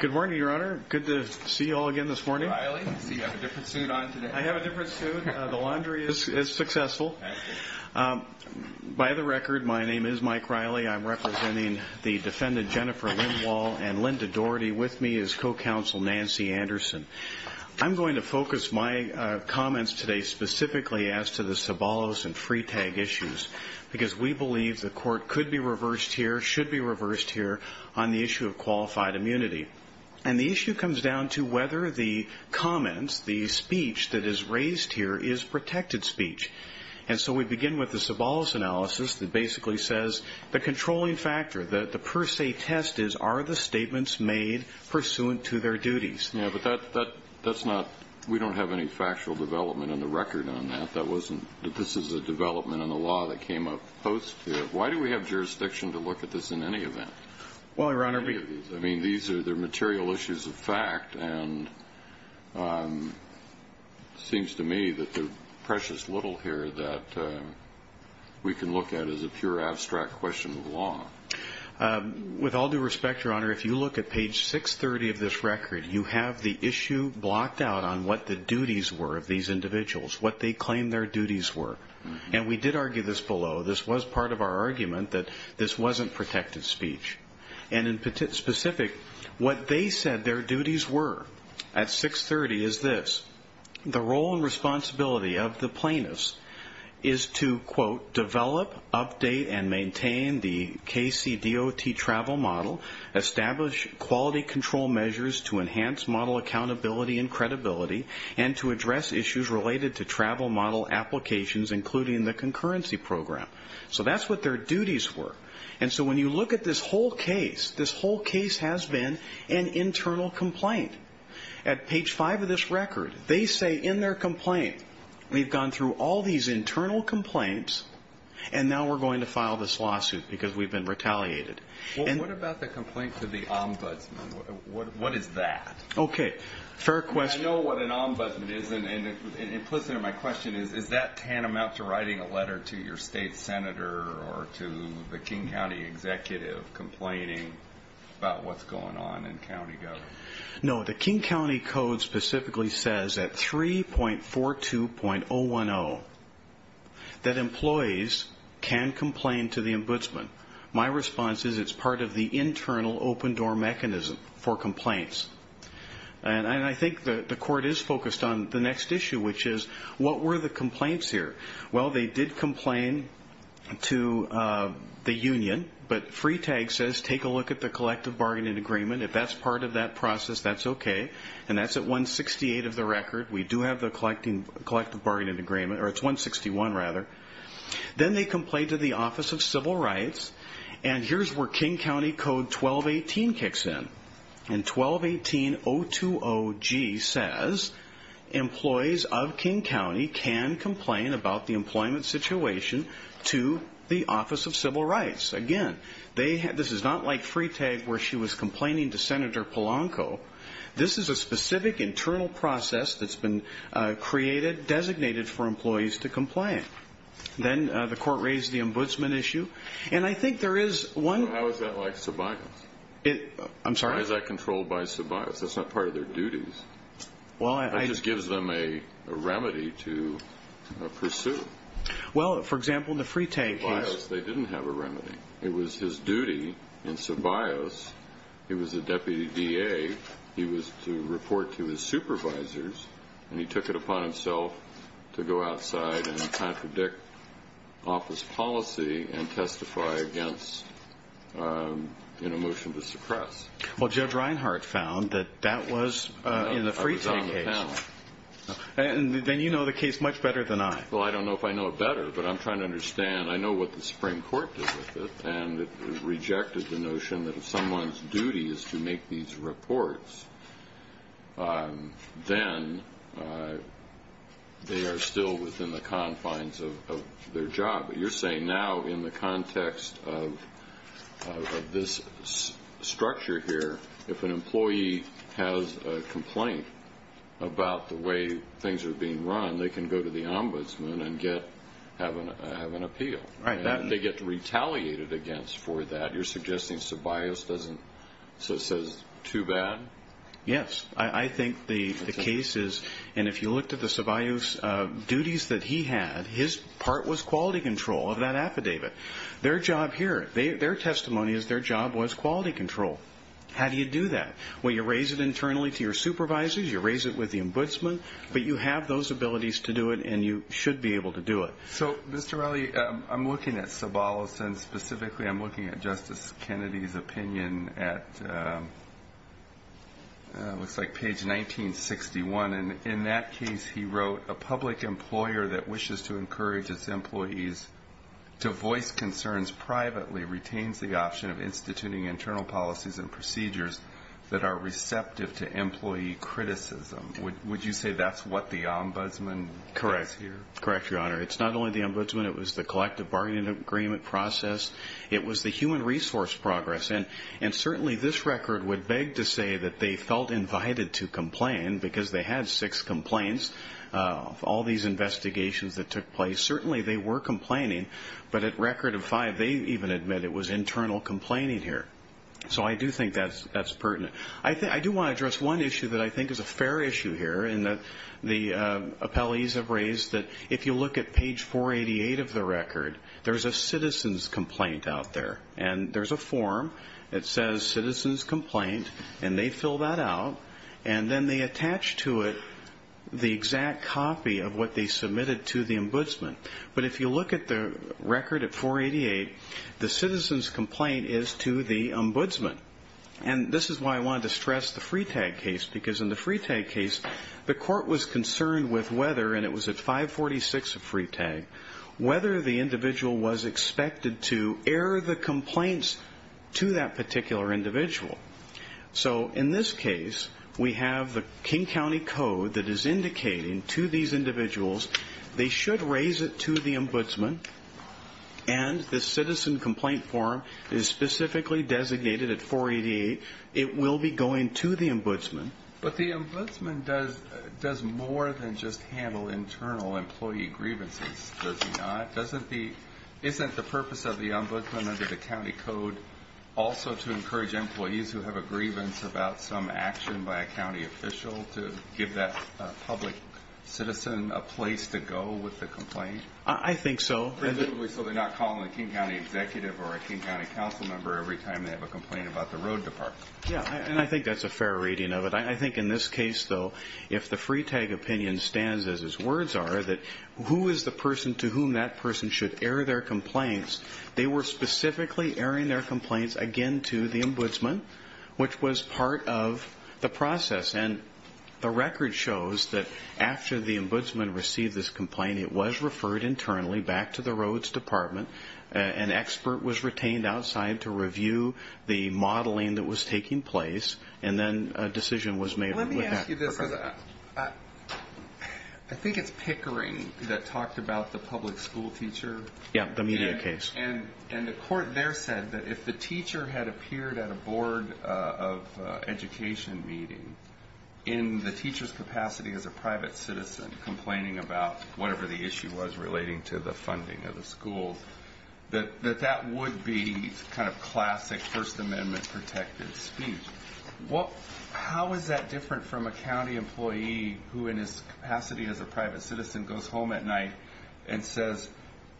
Good morning, Your Honor. Good to see you all again this morning. Riley. I see you have a different suit on today. I have a different suit. The laundry is successful. By the record, my name is Mike Riley. I'm representing the defendant Jennifer Lindwall and Linda Dougherty. With me is co-counsel Nancy Anderson. I'm going to focus my comments today specifically as to the Sobolos and Freetag issues because we believe the court could be reversed here, should be reversed here on the issue of qualified immunity. And the issue comes down to whether the comments, the speech that is raised here is protected speech. And so we begin with the Sobolos analysis that basically says the controlling factor, the per se test is are the statements made pursuant to their duties. Yeah, but that's not – we don't have any factual development in the record on that. That wasn't – this is a development in the law that came up post. Why do we have jurisdiction to look at this in any event? Well, Your Honor – I mean, these are the material issues of fact, and it seems to me that the precious little here that we can look at is a pure abstract question of law. With all due respect, Your Honor, if you look at page 630 of this record, you have the issue blocked out on what the duties were of these individuals, what they claimed their duties were. And we did argue this below. This was part of our argument that this wasn't protected speech. And in specific, what they said their duties were at 630 is this. The role and responsibility of the plaintiffs is to, quote, develop, update, and maintain the KCDOT travel model, establish quality control measures to enhance model accountability and credibility, and to address issues related to travel model applications, including the concurrency program. So that's what their duties were. And so when you look at this whole case, this whole case has been an internal complaint. At page 5 of this record, they say in their complaint, we've gone through all these internal complaints, and now we're going to file this lawsuit because we've been retaliated. Well, what about the complaint to the ombudsman? What is that? Okay, fair question. I know what an ombudsman is, and it puts it in my question. Is that tantamount to writing a letter to your state senator or to the King County executive complaining about what's going on in county government? No, the King County Code specifically says at 3.42.010 that employees can complain to the ombudsman. My response is it's part of the internal open-door mechanism for complaints. And I think the court is focused on the next issue, which is what were the complaints here? Well, they did complain to the union, but Freetag says take a look at the collective bargaining agreement. If that's part of that process, that's okay, and that's at 168 of the record. We do have the collective bargaining agreement, or it's 161 rather. Then they complain to the Office of Civil Rights, and here's where King County Code 12.18 kicks in. And 12.18.020G says employees of King County can complain about the employment situation to the Office of Civil Rights. Again, this is not like Freetag where she was complaining to Senator Polanco. This is a specific internal process that's been created, designated for employees to complain. Then the court raised the ombudsman issue, and I think there is one- So how is that like Ceballos? I'm sorry? Why is that controlled by Ceballos? That's not part of their duties. Well, I- That just gives them a remedy to pursue. Well, for example, in the Freetag case- In Ceballos, he was a deputy DA. He was to report to his supervisors, and he took it upon himself to go outside and contradict office policy and testify against a motion to suppress. Well, Judge Reinhart found that that was in the Freetag case. I was on the panel. Then you know the case much better than I. Well, I don't know if I know it better, but I'm trying to understand. I know what the Supreme Court did with it, and it rejected the notion that if someone's duty is to make these reports, then they are still within the confines of their job. But you're saying now in the context of this structure here, if an employee has a complaint about the way things are being run, they can go to the ombudsman and have an appeal. Right. And they get retaliated against for that. You're suggesting Ceballos doesn't- so it says too bad? Yes. I think the case is, and if you looked at the Ceballos duties that he had, his part was quality control of that affidavit. Their job here, their testimony is their job was quality control. How do you do that? Well, you raise it internally to your supervisors, you raise it with the ombudsman, but you have those abilities to do it, and you should be able to do it. So, Mr. Raleigh, I'm looking at Ceballos, and specifically I'm looking at Justice Kennedy's opinion at, it looks like page 1961, and in that case he wrote, a public employer that wishes to encourage its employees to voice concerns privately retains the option of instituting internal policies and procedures that are receptive to employee criticism. Would you say that's what the ombudsman says here? Correct. Correct, Your Honor. It's not only the ombudsman. It was the collective bargaining agreement process. It was the human resource progress, and certainly this record would beg to say that they felt invited to complain because they had six complaints of all these investigations that took place. Certainly they were complaining, but at record of five, they even admit it was internal complaining here. So I do think that's pertinent. I do want to address one issue that I think is a fair issue here and that the appellees have raised, that if you look at page 488 of the record, there's a citizen's complaint out there, and there's a form that says citizen's complaint, and they fill that out, and then they attach to it the exact copy of what they submitted to the ombudsman. But if you look at the record at 488, the citizen's complaint is to the ombudsman, and this is why I wanted to stress the Freetag case because in the Freetag case, the court was concerned with whether, and it was at 546 of Freetag, whether the individual was expected to air the complaints to that particular individual. So in this case, we have the King County Code that is indicating to these individuals they should raise it to the ombudsman, and the citizen complaint form is specifically designated at 488. It will be going to the ombudsman. But the ombudsman does more than just handle internal employee grievances, does he not? Isn't the purpose of the ombudsman under the county code also to encourage employees who have a grievance about some action by a county official to give that public citizen a place to go with the complaint? I think so. So they're not calling a King County executive or a King County council member every time they have a complaint about the road department. Yeah, and I think that's a fair reading of it. I think in this case, though, if the Freetag opinion stands as his words are, that who is the person to whom that person should air their complaints, they were specifically airing their complaints, again, to the ombudsman, which was part of the process. And the record shows that after the ombudsman received this complaint, it was referred internally back to the roads department. An expert was retained outside to review the modeling that was taking place, and then a decision was made. Let me ask you this. I think it's Pickering that talked about the public school teacher. Yeah, the media case. And the court there said that if the teacher had appeared at a board of education meeting in the teacher's capacity as a private citizen complaining about whatever the issue was relating to the funding of the school, that that would be kind of classic First Amendment-protected speech. How is that different from a county employee who, in his capacity as a private citizen, goes home at night and says,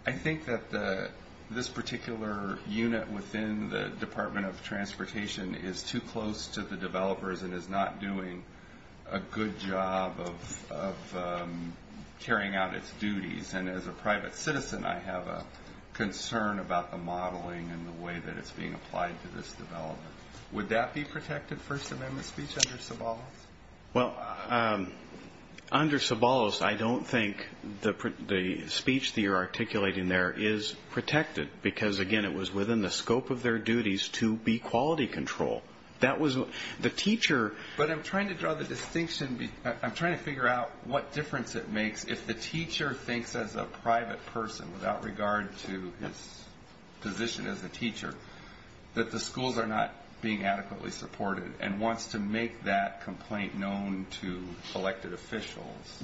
I think that this particular unit within the Department of Transportation is too close to the developers and is not doing a good job of carrying out its duties? And as a private citizen, I have a concern about the modeling and the way that it's being applied to this development. Would that be protected First Amendment speech under Sobolos? Well, under Sobolos, I don't think the speech that you're articulating there is protected because, again, it was within the scope of their duties to be quality control. That was the teacher. But I'm trying to draw the distinction. I'm trying to figure out what difference it makes if the teacher thinks as a private person, without regard to his position as a teacher, that the schools are not being adequately supported and wants to make that complaint known to elected officials.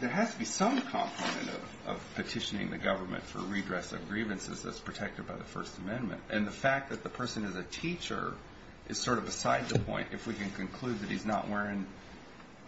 There has to be some complement of petitioning the government for redress of grievances that's protected by the First Amendment. And the fact that the person is a teacher is sort of beside the point, if we can conclude that he's not wearing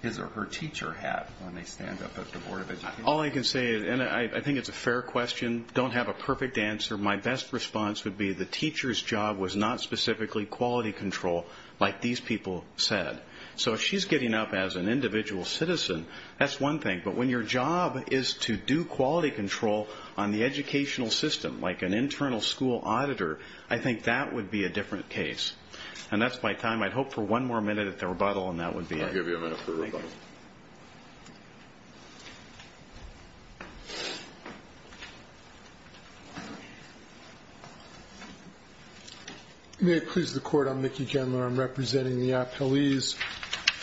his or her teacher hat when they stand up at the Board of Education. All I can say is, and I think it's a fair question, don't have a perfect answer. My best response would be the teacher's job was not specifically quality control, like these people said. So if she's getting up as an individual citizen, that's one thing. But when your job is to do quality control on the educational system, like an internal school auditor, I think that would be a different case. And that's my time. I'd hope for one more minute at the rebuttal, and that would be it. I'll give you a minute for rebuttal. May it please the Court. I'm Mickey Gendler. I'm representing the appellees.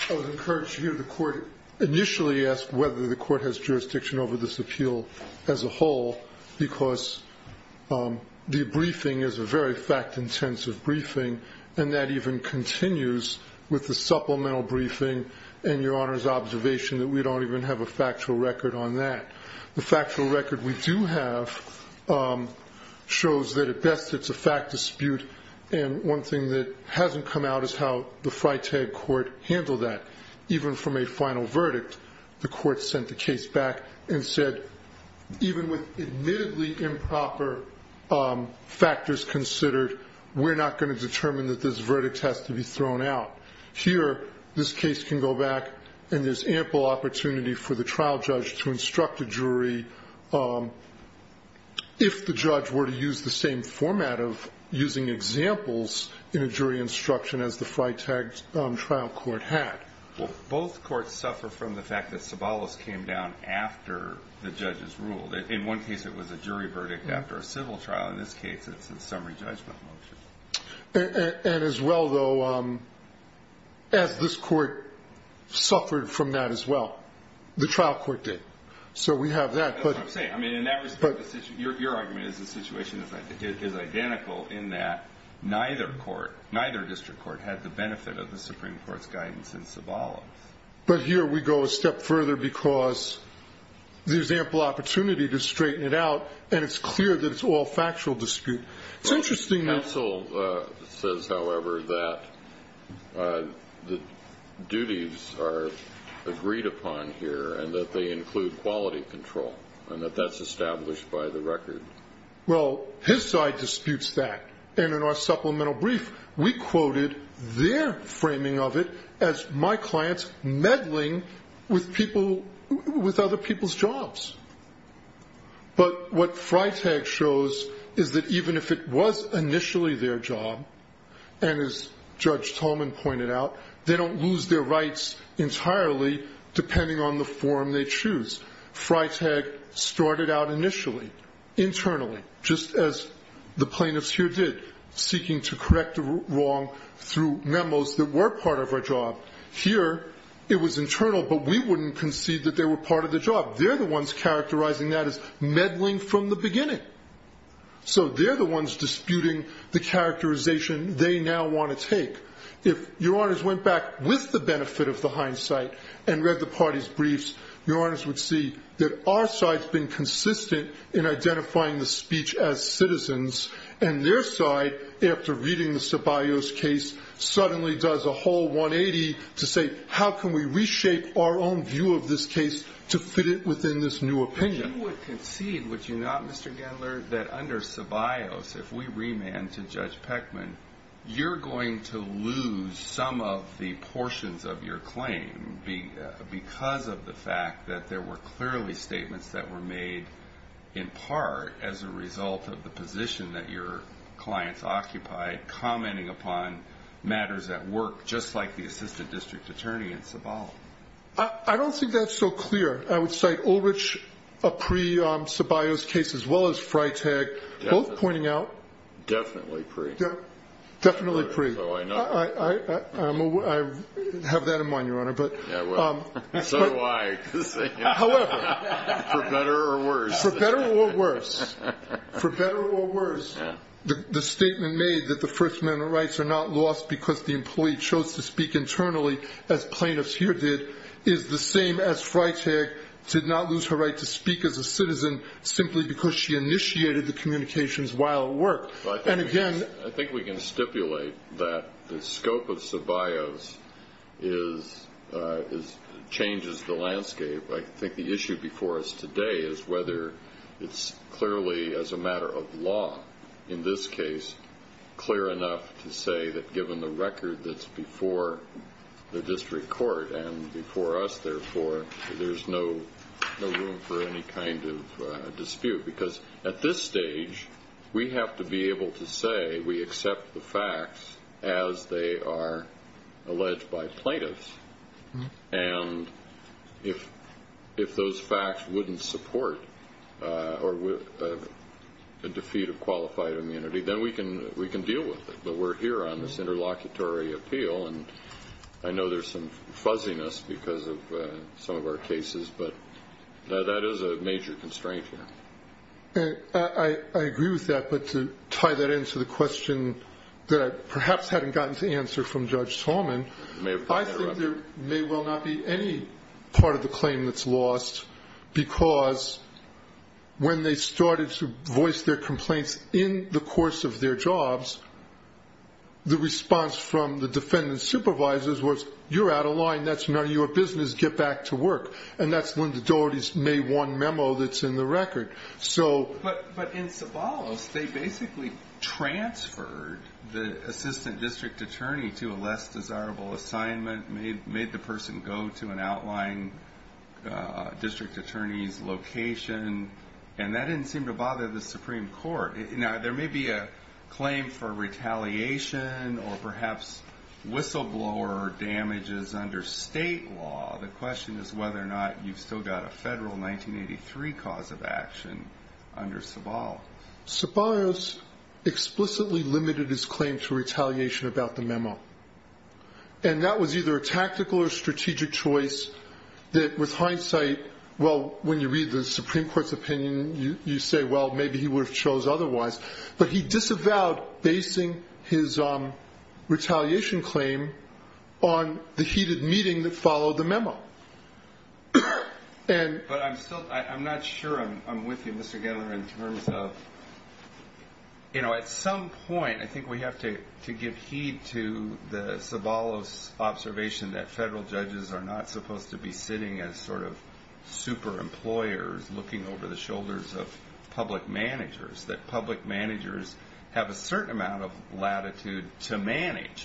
I would encourage you to hear the Court initially ask whether the Court has jurisdiction over this appeal as a whole, because the briefing is a very fact-intensive briefing, and that even continues with the supplemental briefing and Your Honor's observation that we don't even have a factual record on that. The factual record we do have shows that at best it's a fact dispute, and one thing that hasn't come out is how the Freytag Court handled that. Even from a final verdict, the Court sent the case back and said, even with admittedly improper factors considered, we're not going to determine that this verdict has to be thrown out. Here, this case can go back, and there's ample opportunity for the trial judge to instruct a jury, if the judge were to use the same format of using examples in a jury instruction as the Freytag trial court had. Well, both courts suffer from the fact that Sobolos came down after the judges ruled. In one case, it was a jury verdict after a civil trial. In this case, it's a summary judgment motion. And as well, though, as this court suffered from that as well, the trial court did. So we have that. That's what I'm saying. I mean, in that respect, your argument is the situation is identical in that neither court, had the benefit of the Supreme Court's guidance in Sobolos. But here we go a step further because there's ample opportunity to straighten it out, and it's clear that it's all factual dispute. Counsel says, however, that the duties are agreed upon here, and that they include quality control, and that that's established by the record. Well, his side disputes that. And in our supplemental brief, we quoted their framing of it as, my clients meddling with other people's jobs. But what Freytag shows is that even if it was initially their job, and as Judge Tolman pointed out, they don't lose their rights entirely depending on the form they choose. Freytag started out initially, internally, just as the plaintiffs here did, seeking to correct the wrong through memos that were part of our job. Here it was internal, but we wouldn't concede that they were part of the job. They're the ones characterizing that as meddling from the beginning. So they're the ones disputing the characterization they now want to take. If Your Honors went back with the benefit of the hindsight and read the parties' briefs, Your Honors would see that our side's been consistent in identifying the speech as citizens, and their side, after reading the Ceballos case, suddenly does a whole 180 to say, how can we reshape our own view of this case to fit it within this new opinion? You would concede, would you not, Mr. Gendler, that under Ceballos, if we remand to Judge Peckman, you're going to lose some of the portions of your claim because of the fact that there were clearly statements that were made in part as a result of the position that your clients occupied, commenting upon matters at work, just like the assistant district attorney in Ceballos. I don't think that's so clear. I would say Ulrich, pre-Ceballos case, as well as Freytag, both pointing out. Definitely pre. Definitely pre. I have that in mind, Your Honor. So do I. However. For better or worse. For better or worse. For better or worse. The statement made that the First Amendment rights are not lost because the employee chose to speak internally, as plaintiffs here did, is the same as Freytag did not lose her right to speak as a citizen simply because she initiated the communications while at work. And again. I think we can stipulate that the scope of Ceballos changes the landscape. I think the issue before us today is whether it's clearly as a matter of law, in this case, clear enough to say that given the record that's before the district court and before us, therefore, there's no room for any kind of dispute. Because at this stage, we have to be able to say we accept the facts as they are alleged by plaintiffs. And if those facts wouldn't support a defeat of qualified immunity, then we can deal with it. But we're here on this interlocutory appeal, and I know there's some fuzziness because of some of our cases. But that is a major constraint here. I agree with that. But to tie that into the question that I perhaps hadn't gotten to answer from Judge Salmon, I think there may well not be any part of the claim that's lost because when they started to voice their complaints in the course of their jobs, the response from the defendant's supervisors was, you're out of line. That's none of your business. Get back to work. And that's when the authorities made one memo that's in the record. But in Sobolos, they basically transferred the assistant district attorney to a less desirable assignment, made the person go to an outlying district attorney's location, and that didn't seem to bother the Supreme Court. Now, there may be a claim for retaliation or perhaps whistleblower damages under state law. The question is whether or not you've still got a federal 1983 cause of action under Sobolos. Sobolos explicitly limited his claim to retaliation about the memo. And that was either a tactical or strategic choice that, with hindsight, well, when you read the Supreme Court's opinion, you say, well, maybe he would have chose otherwise. But he disavowed basing his retaliation claim on the heated meeting that he had with the Supreme Court. But I'm not sure I'm with you, Mr. Geller, in terms of, you know, at some point I think we have to give heed to the Sobolos observation that federal judges are not supposed to be sitting as sort of super employers looking over the shoulders of public managers,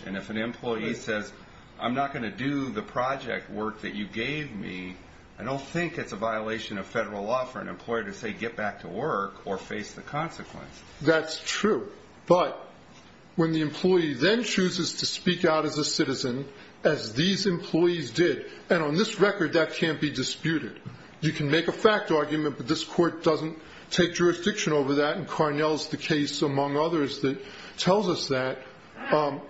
And if an employee says, I'm not going to do the project work that you gave me, I don't think it's a violation of federal law for an employer to say get back to work or face the consequence. That's true. But when the employee then chooses to speak out as a citizen, as these employees did, and on this record that can't be disputed. You can make a fact argument, but this court doesn't take jurisdiction over that, and Carnell's the case, among others, that tells us that.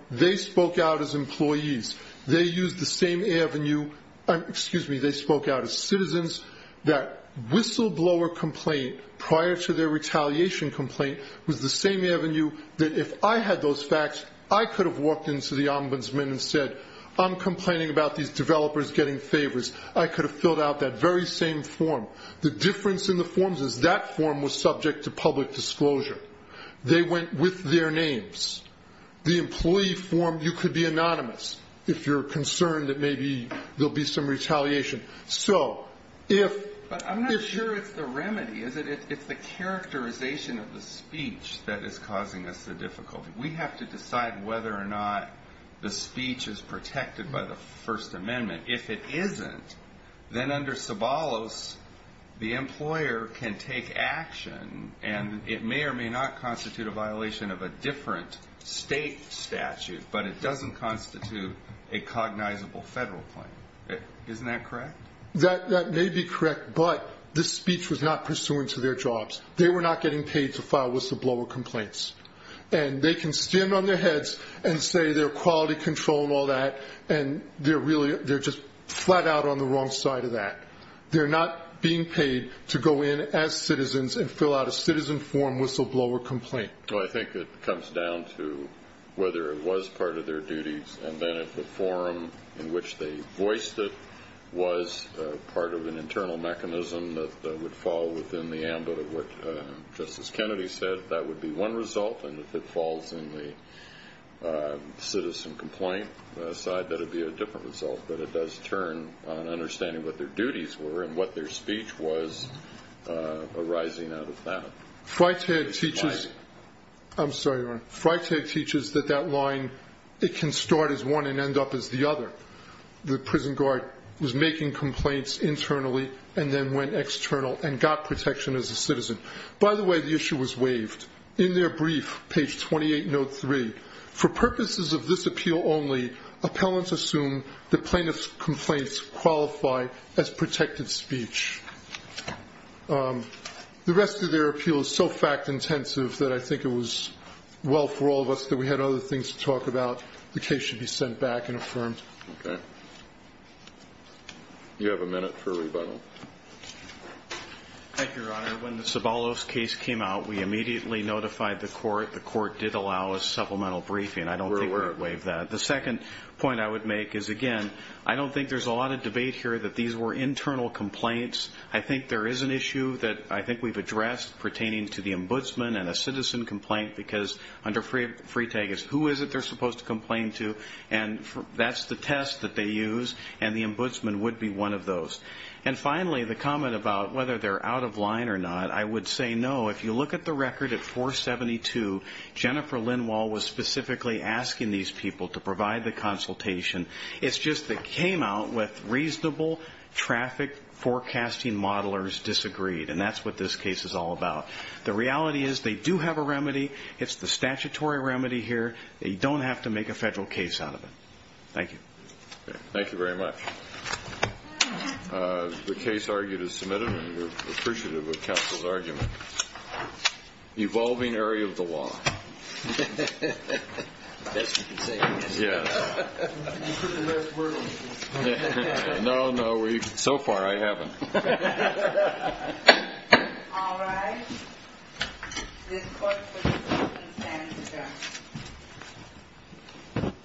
They spoke out as employees. They used the same avenue, excuse me, they spoke out as citizens. That whistleblower complaint prior to their retaliation complaint was the same avenue that if I had those facts, I could have walked into the ombudsman and said, I'm complaining about these developers getting favors. I could have filled out that very same form. The difference in the forms is that form was subject to public disclosure. They went with their names. The employee form, you could be anonymous if you're concerned that maybe there will be some retaliation. But I'm not sure it's the remedy, is it? It's the characterization of the speech that is causing us the difficulty. We have to decide whether or not the speech is protected by the First Amendment. If it isn't, then under Sobolos, the employer can take action, and it may or may not constitute a violation of a different state statute, but it doesn't constitute a cognizable federal claim. Isn't that correct? That may be correct, but this speech was not pursuant to their jobs. They were not getting paid to file whistleblower complaints. And they can stand on their heads and say they're quality control and all that, and they're just flat out on the wrong side of that. They're not being paid to go in as citizens and fill out a citizen form whistleblower complaint. I think it comes down to whether it was part of their duties, and then if the form in which they voiced it was part of an internal mechanism that would fall within the ambit of what Justice Kennedy said, if that would be one result, and if it falls in the citizen complaint side, that would be a different result. But it does turn on understanding what their duties were and what their speech was arising out of that. Freitag teaches that that line, it can start as one and end up as the other. The prison guard was making complaints internally and then went external and got protection as a citizen. By the way, the issue was waived. In their brief, page 2803, for purposes of this appeal only, appellants assume that plaintiff's complaints qualify as protected speech. The rest of their appeal is so fact intensive that I think it was well for all of us that we had other things to talk about. The case should be sent back and affirmed. You have a minute for rebuttal. Thank you, Your Honor. When the Sobolos case came out, we immediately notified the court. The court did allow a supplemental briefing. I don't think we would waive that. The second point I would make is, again, I don't think there's a lot of debate here that these were internal complaints. I think there is an issue that I think we've addressed pertaining to the ombudsman and a citizen complaint because under Freitag, it's who is it they're supposed to complain to, and that's the test that they use, and the ombudsman would be one of those. And finally, the comment about whether they're out of line or not, I would say no. If you look at the record at 472, Jennifer Linwall was specifically asking these people to provide the consultation. It's just they came out with reasonable traffic forecasting modelers disagreed, and that's what this case is all about. The reality is they do have a remedy. It's the statutory remedy here. They don't have to make a federal case out of it. Thank you. Thank you very much. The case argued is submitted, and we're appreciative of counsel's argument. Evolving area of the law. The best you can say. Yes. You couldn't have asked for it otherwise. No, no. So far, I haven't. All right. This court is adjourned.